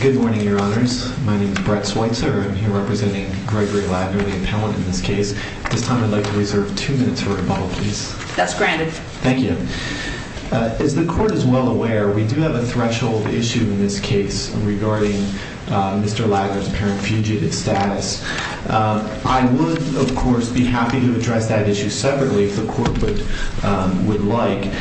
Good morning, your honors. My name is Brett Switzer. I'm here representing Gregory Ladner, the appellant in this case. At this time, I'd like to reserve two minutes for rebuttal, please. That's granted. Thank you. As the court is well aware, we do have a threshold issue in this case regarding Mr. Ladner's apparent fugitive status. I would, of course, be happy to address that issue separately if the court would like.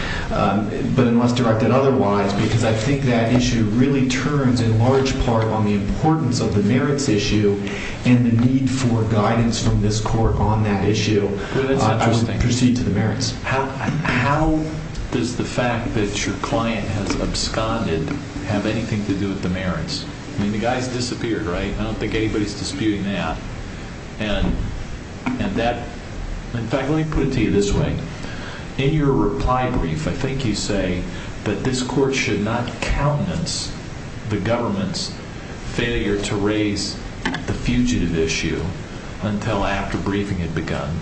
But unless directed otherwise, because I think that issue really turns in large part on the importance of the merits issue and the need for guidance from this court on that issue, I would proceed to the merits. How does the fact that your client has absconded have anything to do with the merits? I mean, the guy's disappeared, right? I don't think anybody's disputing that. In fact, let me put it to you this way. In your reply brief, I think you say that this court should not countenance the government's failure to raise the fugitive issue until after briefing had begun.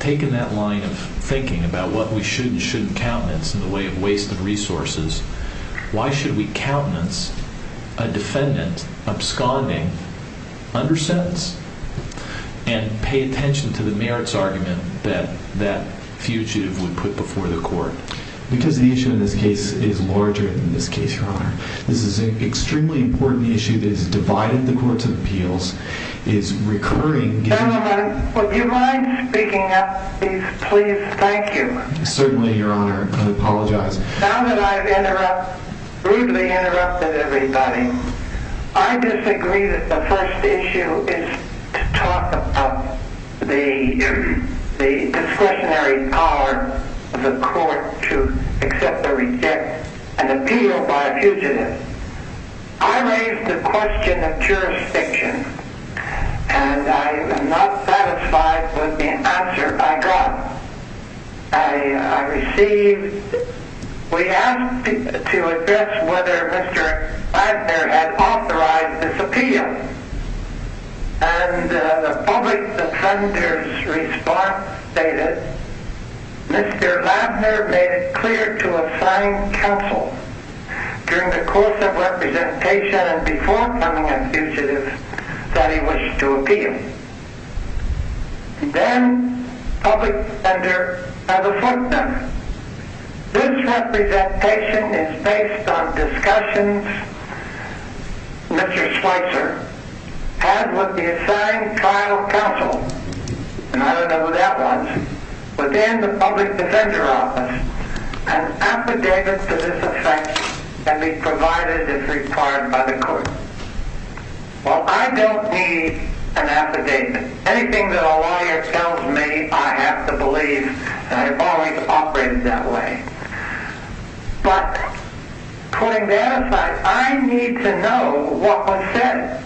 Taking that line of thinking about what we should and shouldn't countenance in the way of wasted resources, why should we countenance a defendant absconding under sentence and pay attention to the merits argument that that fugitive would put before the court? Because the issue in this case is larger than this case, Your Honor. This is an extremely important issue that has divided the courts of appeals, is recurring. Gentlemen, would you mind speaking up, please? Please. Thank you. Certainly, Your Honor. I apologize. Now that I've rudely interrupted everybody, I disagree that the first issue is to talk about the discretionary power of the court to accept or reject an appeal by a fugitive. I raised the question of jurisdiction, and I am not satisfied with the answer I got. I received, we asked to address whether Mr. Ladner had authorized this appeal, and the public defender's response stated, Mr. Ladner made it clear to assigned counsel during the course of representation and before becoming a fugitive that he wished to appeal. Then public defender has afflicted him. This representation is based on discussions Mr. Slicer has with the assigned trial counsel, and I don't know who that was, within the public defender office. An affidavit to this effect can be provided if required by the court. Well, I don't need an affidavit. Anything that a lawyer tells me, I have to believe that I've always operated that way. But, putting that aside, I need to know what was said.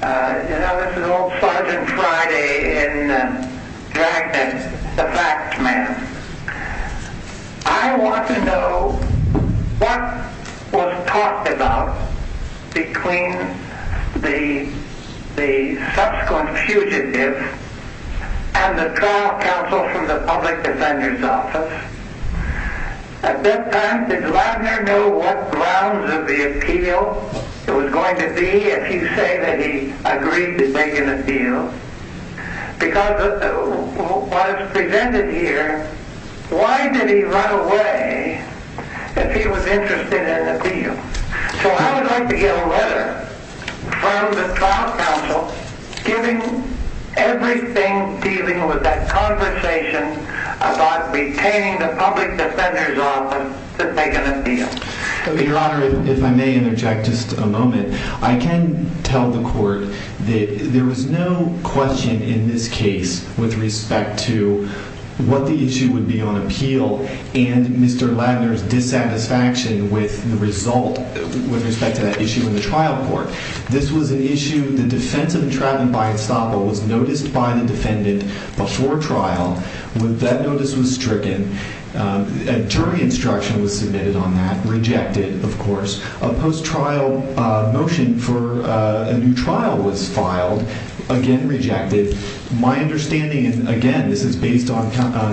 You know, this is old Sergeant Friday in Dragnet, the fact man. I want to know what was talked about between the subsequent fugitive and the trial counsel from the public defender's office. At this time, did Ladner know what the grounds of the appeal was going to be if he agreed to make an appeal? Because what is presented here, why did he run away if he was interested in an appeal? So I would like to get a letter from the trial counsel giving everything dealing with that conversation about retaining the public defender's I can tell the court that there was no question in this case with respect to what the issue would be on appeal and Mr. Ladner's dissatisfaction with the result, with respect to that issue in the trial court. This was an issue, the defense of entrapment by estoppel was noticed by the defendant before trial. That notice was stricken. A jury instruction was submitted on that. Rejected, of course. A post-trial motion for a new trial was filed. Again, rejected. My understanding, and again, this is based on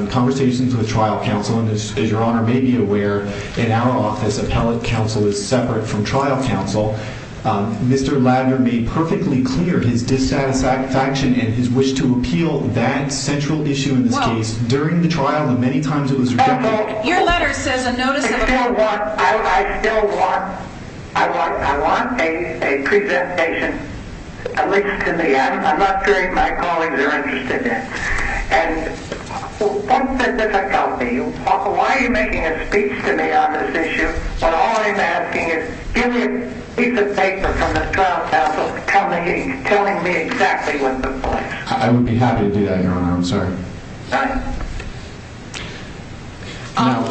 conversations with trial counsel, and as your honor may be aware, in our office, appellate counsel is separate from trial counsel. Mr. Ladner made perfectly clear his dissatisfaction and his wish to appeal that central issue in this case during the trial, and many times it was rejected. Your letter says a notice of appeal. I still want a presentation, at least to me. I'm not sure any of my colleagues are interested in it. And don't think this will help me. Why are you making a speech to me on this issue, when all I'm asking is, give me a piece of paper from the trial counsel telling me exactly what the point is. I would be happy to do that, your honor. I'm sorry. Sorry?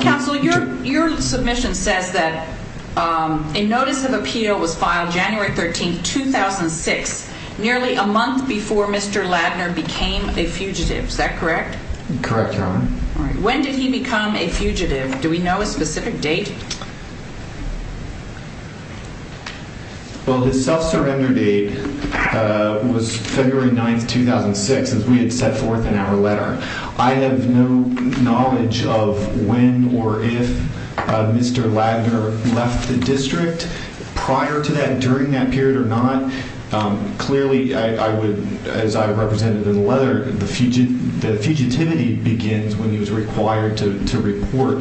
Counsel, your submission says that a notice of appeal was filed January 13, 2006, nearly a month before Mr. Ladner became a fugitive. Is that correct? Correct, your honor. When did he become a fugitive? Do we know a specific date? Well, his self-surrender date was February 9, 2006, as we had set forth in our letter. I have no knowledge of when or if Mr. Ladner left the district prior to that, during that period or not. Clearly, as I represented in the letter, the fugitivity begins when he was required to report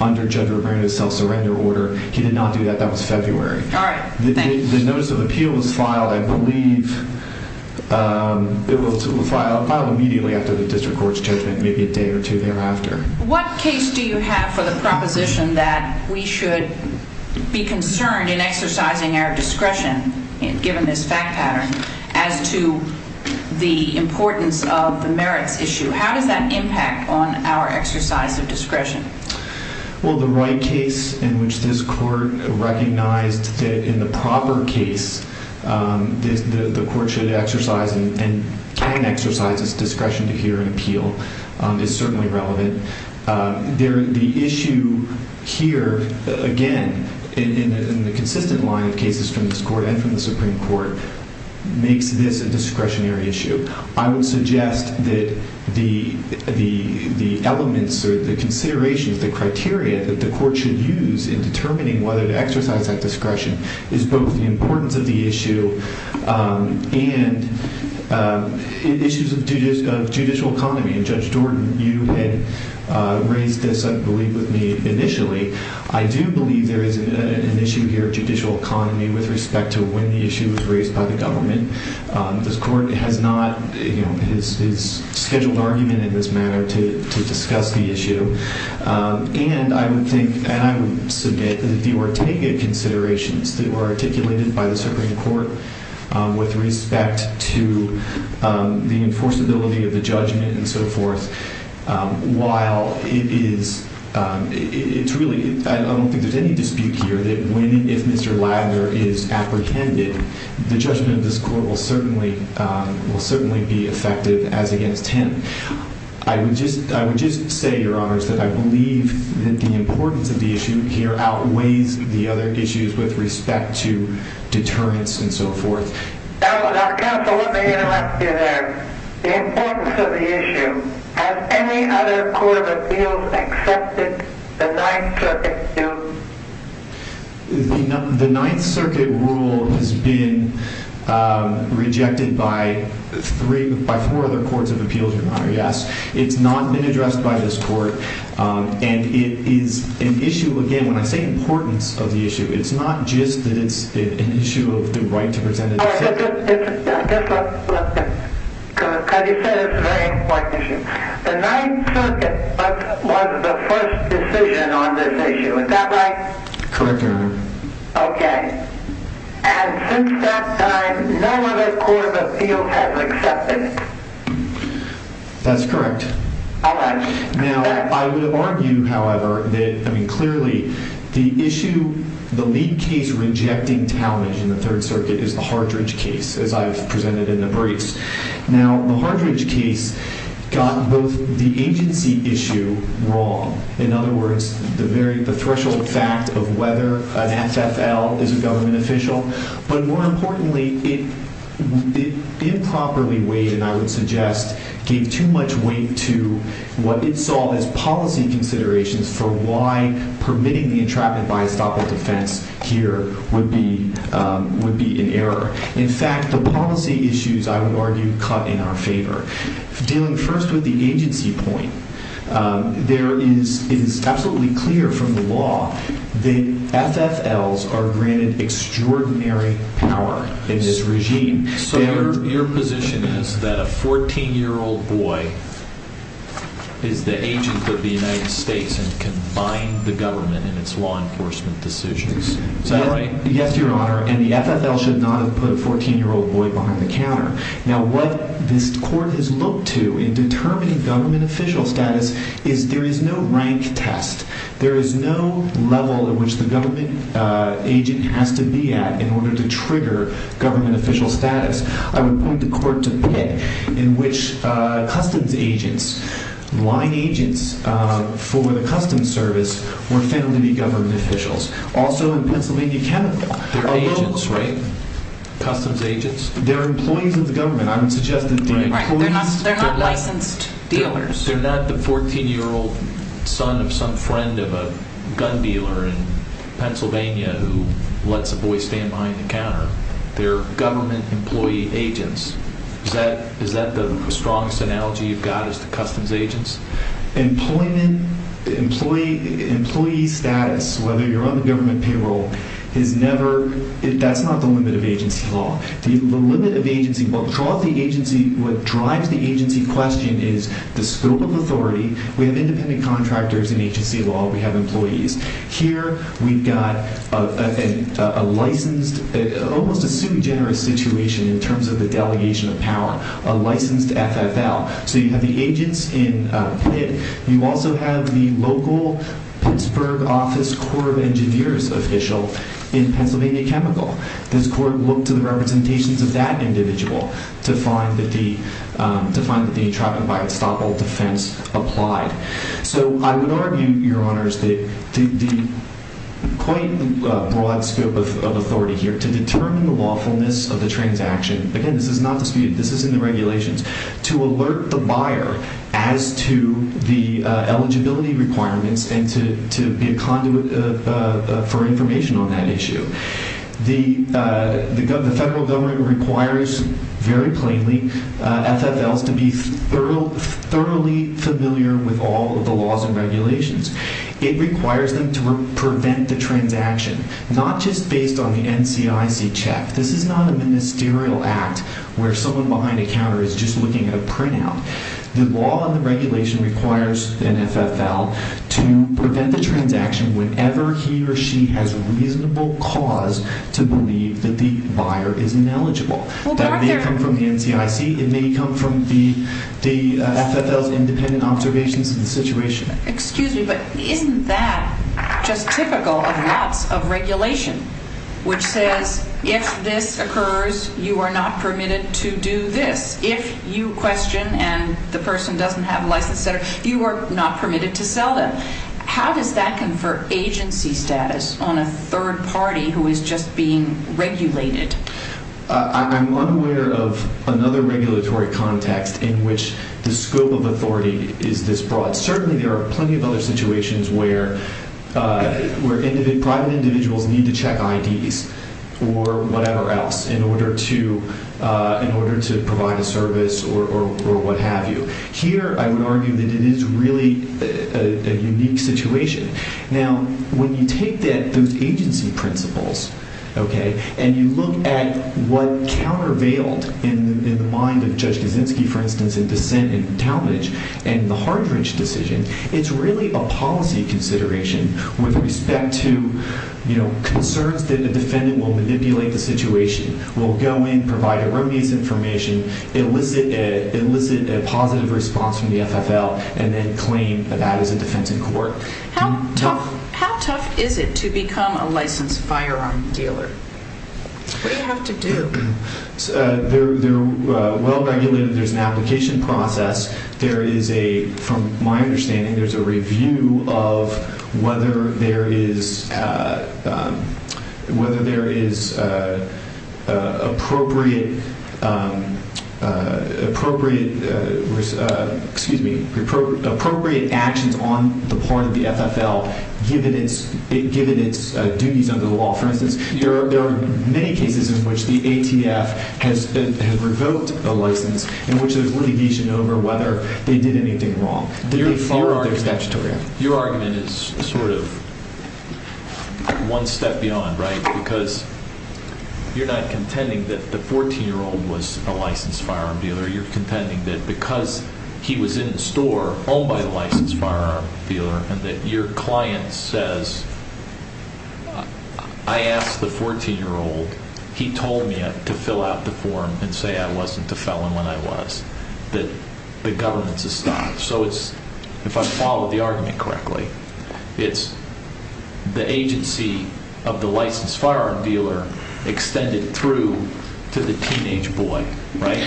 under Judge Romero's self-surrender order. He did not do that. That was February. All right. Thanks. The notice of appeal was filed, I believe, it was filed immediately after the district court's judgment, maybe a day or two thereafter. What case do you have for the proposition that we should be concerned in exercising our discretion, given this fact pattern, as to the importance of the merits issue? How does that impact on our exercise of discretion? Well, the right case in which this court recognized that in the proper case, the court should exercise and can exercise its discretion to hear an appeal is certainly relevant. The issue here, again, in the consistent line of cases from this court and from the Supreme Court, makes this a discretionary issue. I would suggest that the elements or the considerations, the criteria that the court should use in determining whether to exercise that discretion is both the importance of the issue and issues of judicial economy. And Judge Jordan, you had raised this, I believe, with me initially. I do believe there is an issue here of judicial economy with respect to when the issue was raised by the government. This court has not scheduled argument in this matter to discuss the issue. And I would submit that the Ortega considerations that were articulated by the Supreme Court with respect to the enforceability of the judgment and so forth, while it is, it's really, I don't think there's any dispute here that if Mr. Ladner is apprehended, the judgment of this court will certainly be effective as against him. I would just say, Your Honors, that I believe that the importance of the issue here outweighs the other issues with respect to deterrence and so forth. Counsel, let me interrupt you there. The importance of the issue. Has any other court of appeals accepted the Ninth Circuit rule? The Ninth Circuit rule has been rejected by three, by four other courts of appeals, Your Honor, yes. It's not been addressed by this court. And it is an issue, again, when I say importance of the issue, it's not just that it's an issue of the right to present a decision. I guess what you said is a very important issue. The Ninth Circuit was the first decision on this issue. Is that right? Correct, Your Honor. Okay. And since that time, no other court of appeals has accepted it. That's correct. All right. Now, I would argue, however, that, I mean, clearly, the issue, the lead case rejecting Talmadge in the Third Circuit is the Hardridge case, as I have presented in the briefs. Now, the Hardridge case got both the agency issue wrong. In other words, the threshold fact of whether an FFL is a government official. But more importantly, it improperly weighed, and I would suggest, gave too much weight to what it saw as policy considerations for why permitting the entrapment by estoppel defense here would be an error. In fact, the policy issues, I would argue, cut in our favor. Dealing first with the agency point, it is absolutely clear from the law that FFLs are granted extraordinary power in this regime. So your position is that a 14-year-old boy is the agent with the United States and can bind the government in its law enforcement decisions. Is that right? Yes, Your Honor. And the FFL should not have put a 14-year-old boy behind the counter. Now, what this court has looked to in determining government official status is there is no rank test. There is no level at which the government agent has to be at in order to trigger government official status. I would point the court to Pitt, in which customs agents, line agents, for the customs service were family government officials. Also in Pennsylvania, Canada, they're agents, right? Customs agents. They're employees of the government. I would suggest that they're employees. They're not licensed dealers. They're not the 14-year-old son of some friend of a gun dealer in Pennsylvania who lets a boy stand behind the counter. They're government employee agents. Is that the strongest analogy you've got as to customs agents? Employee status, whether you're on the government payroll, that's not the limit of agency law. The limit of agency, what drives the agency question is the scope of authority. We have independent contractors in agency law. We have employees. Here we've got a licensed, almost a sui generis situation in terms of the delegation of power, a licensed FFL. You have the agents in Pitt. You also have the local Pittsburgh office Corps of Engineers official in Pennsylvania Chemical. Does the court look to the representations of that individual to find that the entrapment by estoppel defense applied? I would argue, Your Honors, the quite broad scope of authority here to determine the lawfulness of the transaction. Again, this is not disputed. This is in the regulations. To alert the buyer as to the eligibility requirements and to be a conduit for information on that issue. The federal government requires, very plainly, FFLs to be thoroughly familiar with all of the laws and regulations. It requires them to prevent the transaction, not just based on the NCIC check. This is not a ministerial act where someone behind a counter is just looking at a printout. The law and the regulation requires an FFL to prevent the transaction whenever he or she has reasonable cause to believe that the buyer is ineligible. That may come from the NCIC. It may come from the FFL's independent observations of the situation. Excuse me, but isn't that just typical of lots of regulation, which says if this occurs, you are not permitted to do this. If you question and the person doesn't have a license, etc., you are not permitted to sell them. How does that confer agency status on a third party who is just being regulated? I'm unaware of another regulatory context in which the scope of authority is this broad. Certainly, there are plenty of other situations where private individuals need to check IDs or whatever else in order to provide a service or what have you. Here, I would argue that it is really a unique situation. When you take those agency principles and you look at what countervailed in the mind of Judge Kaczynski, for instance, in dissent in Talmadge and the Hardridge decision, it's really a policy consideration with respect to concerns that the defendant will manipulate the situation, will go in, provide erroneous information, elicit a positive response from the FFL, and then claim that that is a defense in court. How tough is it to become a licensed firearm dealer? What do you have to do? They're well regulated. There's an application process. There is a, from my understanding, there's a review of whether there is appropriate actions on the part of the FFL given its duties under the law. For instance, there are many cases in which the ATF has revoked a license in which there's litigation over whether they did anything wrong. Your argument is sort of one step beyond, right? Because you're not contending that the 14-year-old was a licensed firearm dealer. You're contending that because he was in a store owned by a licensed firearm dealer and that your client says, I asked the 14-year-old, he told me to fill out the form and say I wasn't a felon when I was, that the governance has stopped. So it's, if I follow the argument correctly, it's the agency of the licensed firearm dealer extended through to the teenage boy, right?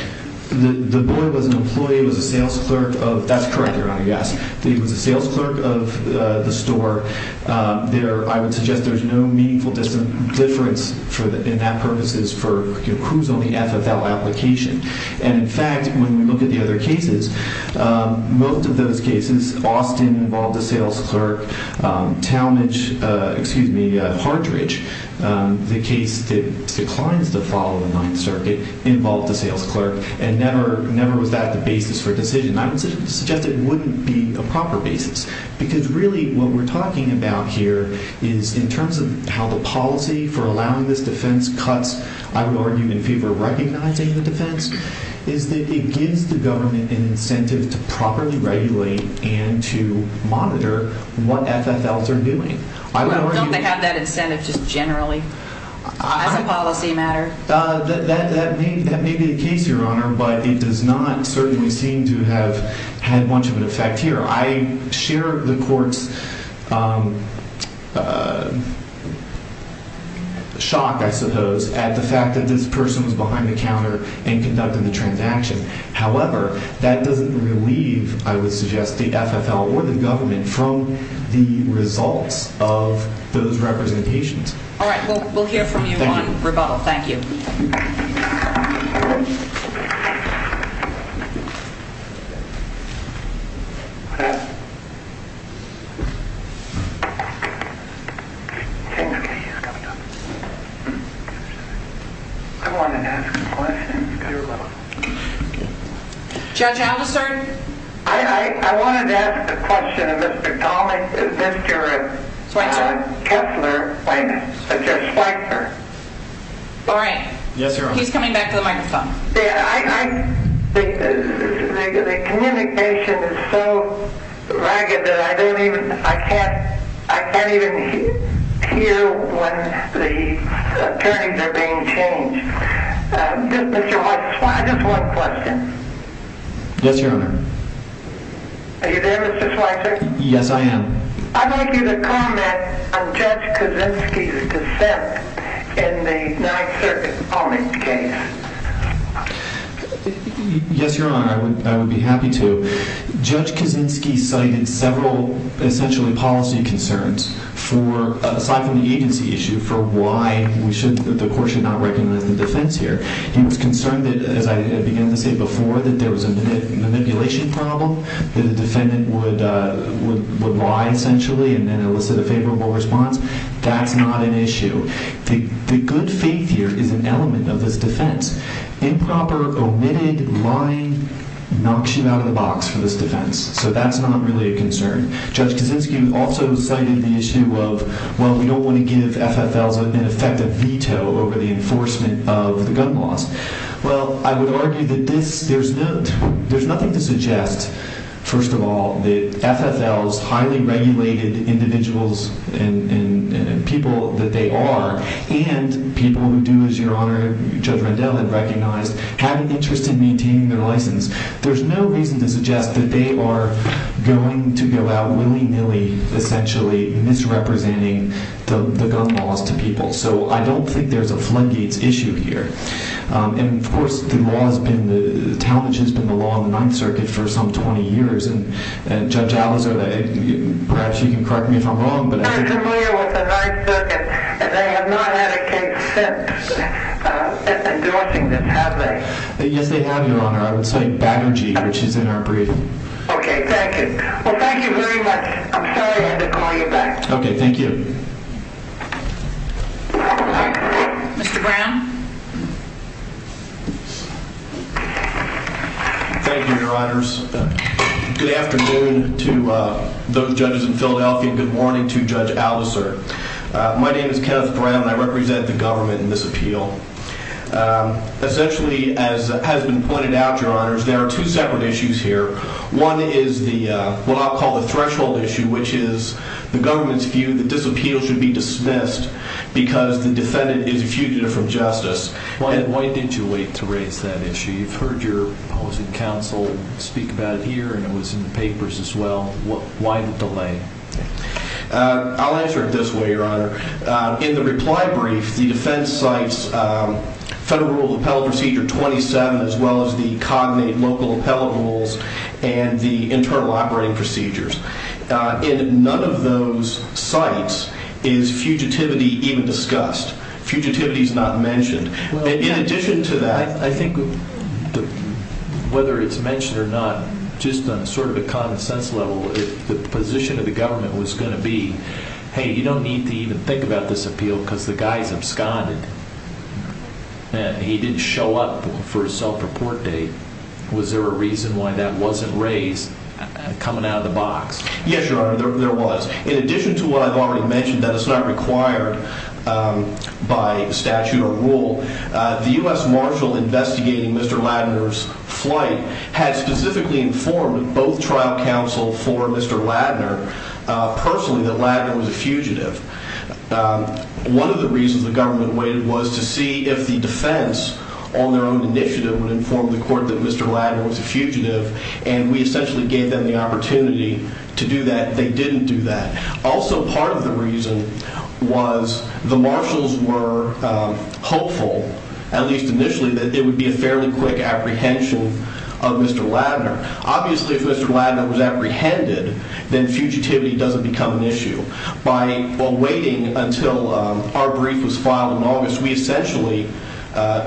The boy was an employee, was a sales clerk of, that's correct Your Honor, yes. He was a sales clerk of the store. I would suggest there's no meaningful difference in that purposes for who's on the FFL application. And in fact, when we look at the other cases, most of those cases, Austin involved a sales clerk, Talmadge, excuse me, Partridge, the case that declines to follow the Ninth Circuit involved a sales clerk and never was that the basis for a decision. I would suggest it wouldn't be a proper basis because really what we're talking about here is in terms of how the policy for allowing this defense cuts, I would argue, in favor of recognizing the defense, is that it gives the government an incentive to properly regulate and to monitor what FFLs are doing. Don't they have that incentive just generally as a policy matter? That may be the case, Your Honor, but it does not certainly seem to have had much of an effect here. I share the court's shock, I suppose, at the fact that this person was behind the counter and conducting the transaction. However, that doesn't relieve, I would suggest, the FFL or the government from the results of those representations. All right, we'll hear from you on rebuttal. Thank you. I wanted to ask a question of Mr. Kessler. All right. Yes, Your Honor. He's coming back to the microphone. The communication is so ragged that I can't even hear when the hearings are being changed. Just one question. Yes, Your Honor. Are you there, Mr. Schweitzer? Yes, I am. I'd like you to comment on Judge Kaczynski's dissent in the Ninth Circuit Police case. Yes, Your Honor, I would be happy to. Judge Kaczynski cited several essentially policy concerns aside from the agency issue for why the court should not recognize the defense here. He was concerned that, as I began to say before, that there was a manipulation problem, that a defendant would lie, essentially, and then elicit a favorable response. That's not an issue. The good faith here is an element of this defense. Improper, omitted, lying knocks you out of the box for this defense. So that's not really a concern. Judge Kaczynski also cited the issue of, well, we don't want to give FFLs, in effect, a veto over the enforcement of the gun laws. Well, I would argue that there's nothing to suggest, first of all, that FFLs, highly regulated individuals and people that they are, and people who do, as Your Honor, Judge Rendell had recognized, have an interest in maintaining their license. There's no reason to suggest that they are going to go out willy-nilly, essentially, misrepresenting the gun laws to people. So I don't think there's a floodgates issue here. And, of course, the law has been, the challenge has been the law on the Ninth Circuit for some 20 years, and Judge Alizo, perhaps you can correct me if I'm wrong, but I think— I'm familiar with the Ninth Circuit, and they have not had a case since endorsing this, have they? Yes, they have, Your Honor. I would say Baggergy, which is in our briefing. Okay, thank you. Well, thank you very much. I'm sorry I had to call you back. Okay, thank you. Mr. Brown. Thank you, Your Honors. Good afternoon to those judges in Philadelphia, and good morning to Judge Alizer. My name is Kenneth Brown, and I represent the government in this appeal. Essentially, as has been pointed out, Your Honors, there are two separate issues here. One is what I'll call the threshold issue, which is the government's view that this appeal should be dismissed because the defendant is a fugitive from justice. Why did you wait to raise that issue? You've heard your opposing counsel speak about it here, and it was in the papers as well. Why the delay? I'll answer it this way, Your Honor. In the reply brief, the defense cites Federal Rule of Appellate Procedure 27 as well as the cognate local appellate rules and the internal operating procedures. In none of those cites is fugitivity even discussed. Fugitivity is not mentioned. In addition to that, I think whether it's mentioned or not, just on sort of a common sense level, if the position of the government was going to be, hey, you don't need to even think about this appeal because the guy is absconded and he didn't show up for his self-report date, was there a reason why that wasn't raised coming out of the box? Yes, Your Honor, there was. In addition to what I've already mentioned, that it's not required by statute or rule, the U.S. Marshal investigating Mr. Ladner's flight had specifically informed both trial counsel for Mr. Ladner personally that Ladner was a fugitive. One of the reasons the government waited was to see if the defense on their own initiative would inform the court that Mr. Ladner was a fugitive, and we essentially gave them the opportunity to do that. They didn't do that. Also, part of the reason was the marshals were hopeful, at least initially, that it would be a fairly quick apprehension of Mr. Ladner. Obviously, if Mr. Ladner was apprehended, then fugitivity doesn't become an issue. While waiting until our brief was filed in August, we essentially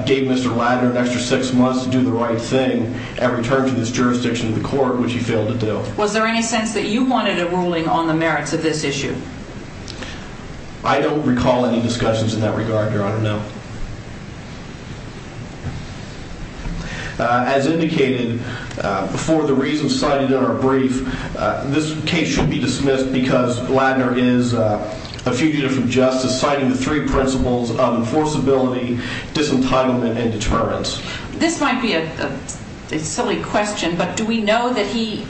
gave Mr. Ladner an extra six months to do the right thing and return to this jurisdiction of the court, which he failed to do. Was there any sense that you wanted a ruling on the merits of this issue? I don't recall any discussions in that regard, Your Honor, no. As indicated before, the reasons cited in our brief, this case should be dismissed because Ladner is a fugitive from justice, and is citing the three principles of enforceability, disentitlement, and deterrence. This might be a silly question, but do we know that he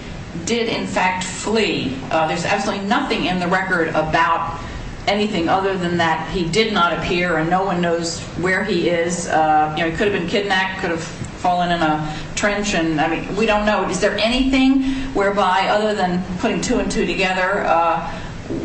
did, in fact, flee? There's absolutely nothing in the record about anything other than that he did not appear and no one knows where he is. He could have been kidnapped, could have fallen in a trench. We don't know. Is there anything whereby, other than putting two and two together,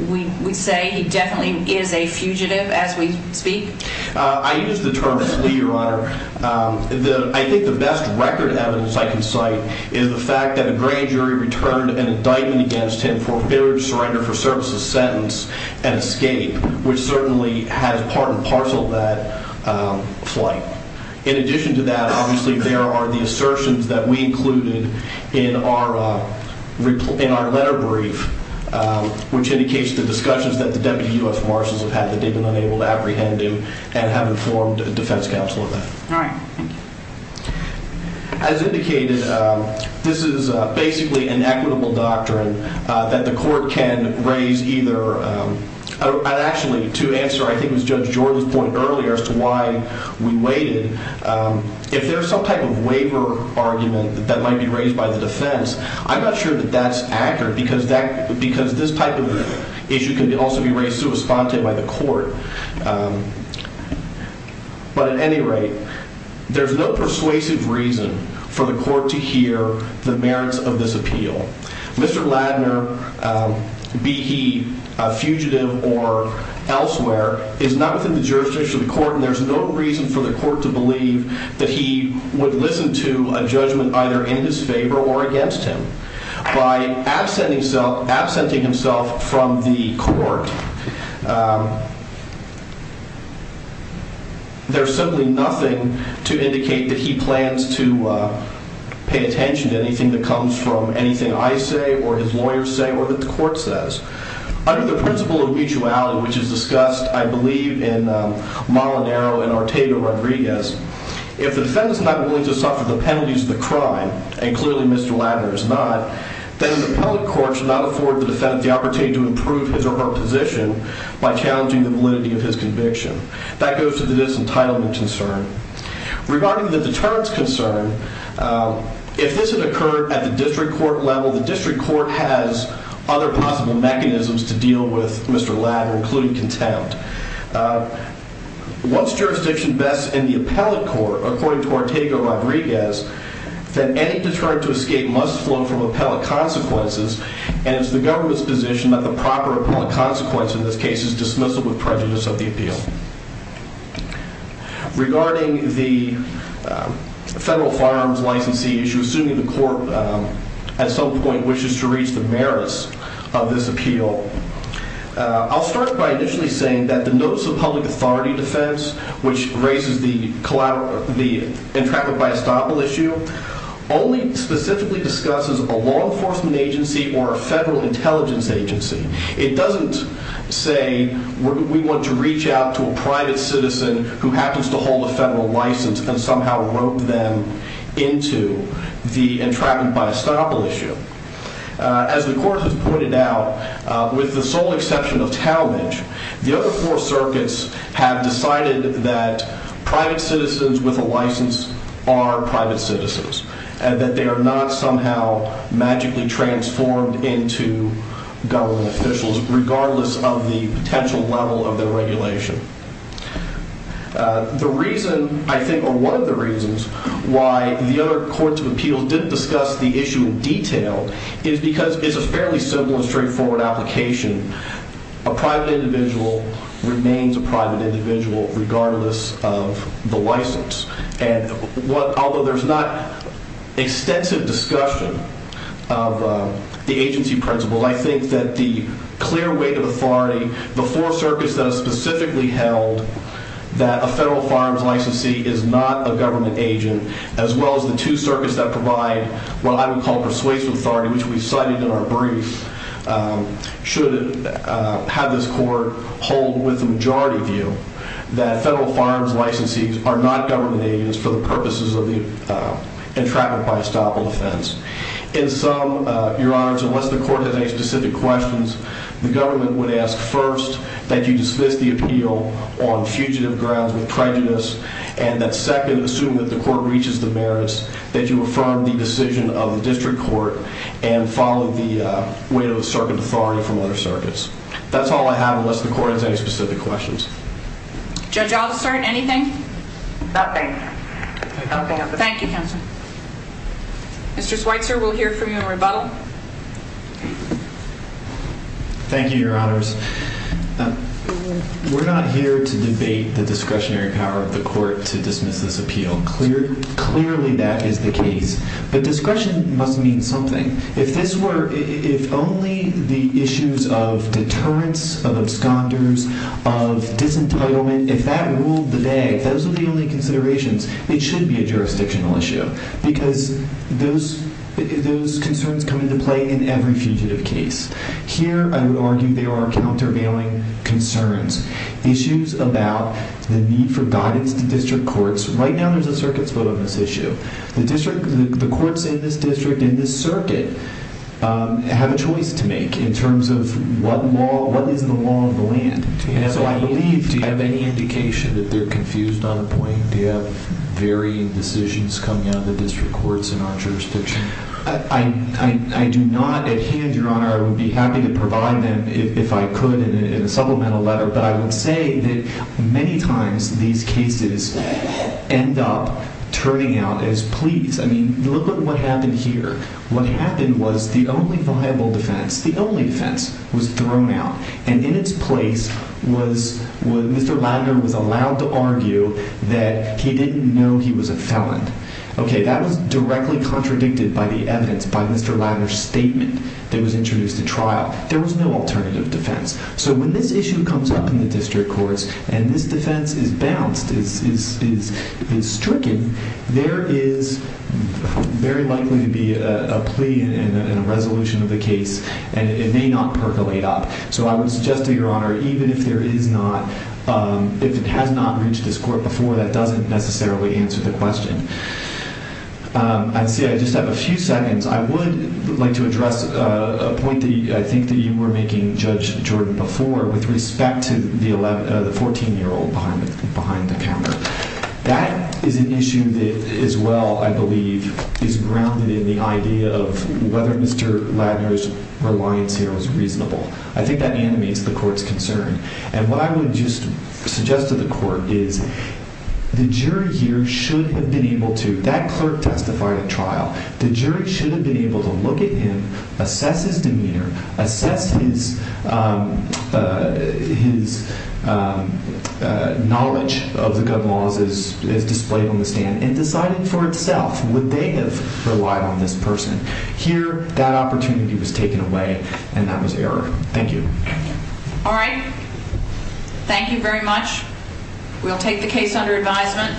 we say he definitely is a fugitive as we speak? I use the term flee, Your Honor. I think the best record evidence I can cite is the fact that a grand jury returned an indictment against him for failure to surrender for services sentence and escape, which certainly has part and parcel of that flight. In addition to that, obviously, there are the assertions that we included in our letter brief, which indicates the discussions that the Deputy U.S. Marshals have had that they've been unable to apprehend him and haven't formed a defense counsel on that. All right. Thank you. As indicated, this is basically an equitable doctrine that the court can raise either. Actually, to answer, I think it was Judge Jordan's point earlier as to why we waited, if there's some type of waiver argument that might be raised by the defense, I'm not sure that that's accurate because this type of issue can also be raised through a spontane by the court. But at any rate, there's no persuasive reason for the court to hear the merits of this appeal. Mr. Ladner, be he a fugitive or elsewhere, is not within the jurisdiction of the court, and there's no reason for the court to believe that he would listen to a judgment either in his favor or against him. By absenting himself from the court, there's simply nothing to indicate that he plans to pay attention to anything that comes from anything I say or his lawyers say or that the court says. Under the principle of mutuality, which is discussed, I believe, in Molinaro and Ortega-Rodriguez, if the defendant is not willing to suffer the penalties of the crime, and clearly Mr. Ladner is not, then the appellate court should not afford the defendant the opportunity to improve his or her position by challenging the validity of his conviction. That goes to the disentitlement concern. Regarding the deterrence concern, if this had occurred at the district court level, the district court has other possible mechanisms to deal with Mr. Ladner, including contempt. What's jurisdiction best in the appellate court, according to Ortega-Rodriguez, that any deterrent to escape must flow from appellate consequences, and it's the government's position that the proper appellate consequence in this case is dismissal with prejudice of the appeal. Regarding the federal firearms licensee issue, assuming the court at some point wishes to reach the merits of this appeal, I'll start by initially saying that the notice of public authority defense, which raises the entrapment by estoppel issue, only specifically discusses a law enforcement agency or a federal intelligence agency. It doesn't say we want to reach out to a private citizen who happens to hold a federal license and somehow rope them into the entrapment by estoppel issue. As the court has pointed out, with the sole exception of Talmadge, the other four circuits have decided that private citizens with a license are private citizens, and that they are not somehow magically transformed into government officials, regardless of the potential level of their regulation. The reason, I think, or one of the reasons, why the other courts of appeals didn't discuss the issue in detail is because it's a fairly simple and straightforward application. A private individual remains a private individual, regardless of the license. Although there's not extensive discussion of the agency principle, I think that the clear weight of authority, the four circuits that have specifically held that a federal firearms licensee is not a government agent, as well as the two circuits that provide what I would call persuasive authority, which we cited in our brief, should have this court hold with a majority view that federal firearms licensees are not government agents for the purposes of the entrapment by estoppel offense. In sum, your honors, unless the court has any specific questions, the government would ask first that you dismiss the appeal on fugitive grounds with prejudice, and that second, assume that the court reaches the merits that you affirm the decision of the district court and follow the weight of the circuit authority from other circuits. That's all I have, unless the court has any specific questions. Judge Aldister, anything? Nothing. Thank you, counsel. Mr. Schweitzer, we'll hear from you in rebuttal. Thank you, your honors. We're not here to debate the discretionary power of the court to dismiss this appeal. Clearly that is the case. But discretion must mean something. If only the issues of deterrence, of absconders, of disentitlement, if that ruled the day, if those were the only considerations, it should be a jurisdictional issue because those concerns come into play in every fugitive case. Here, I would argue, there are countervailing concerns, issues about the need for guidance to district courts. Right now, there's a circuit's vote on this issue. The courts in this district, in this circuit, have a choice to make in terms of what is the law of the land. Do you have any indication that they're confused on the point? Do you have varying decisions coming out of the district courts in our jurisdiction? I do not at hand, your honor. I would be happy to provide them if I could in a supplemental letter. But I would say that many times these cases end up turning out as pleas. I mean, look at what happened here. What happened was the only viable defense, the only defense, was thrown out. And in its place, Mr. Ladner was allowed to argue that he didn't know he was a felon. Okay, that was directly contradicted by the evidence by Mr. Ladner's statement that was introduced at trial. There was no alternative defense. So when this issue comes up in the district courts and this defense is bounced, is stricken, there is very likely to be a plea and a resolution of the case, and it may not percolate up. So I would suggest to your honor, even if it has not reached this court before, that doesn't necessarily answer the question. I see I just have a few seconds. I would like to address a point that I think you were making, Judge Jordan, before with respect to the 14-year-old behind the counter. That is an issue that as well, I believe, is grounded in the idea of whether Mr. Ladner's reliance here was reasonable. I think that animates the court's concern. And what I would just suggest to the court is the jury here should have been able to That clerk testified at trial. The jury should have been able to look at him, assess his demeanor, assess his knowledge of the gun laws as displayed on the stand, and decide for itself would they have relied on this person. Here, that opportunity was taken away, and that was error. Thank you. All right. Thank you very much. We'll take the case under advisement.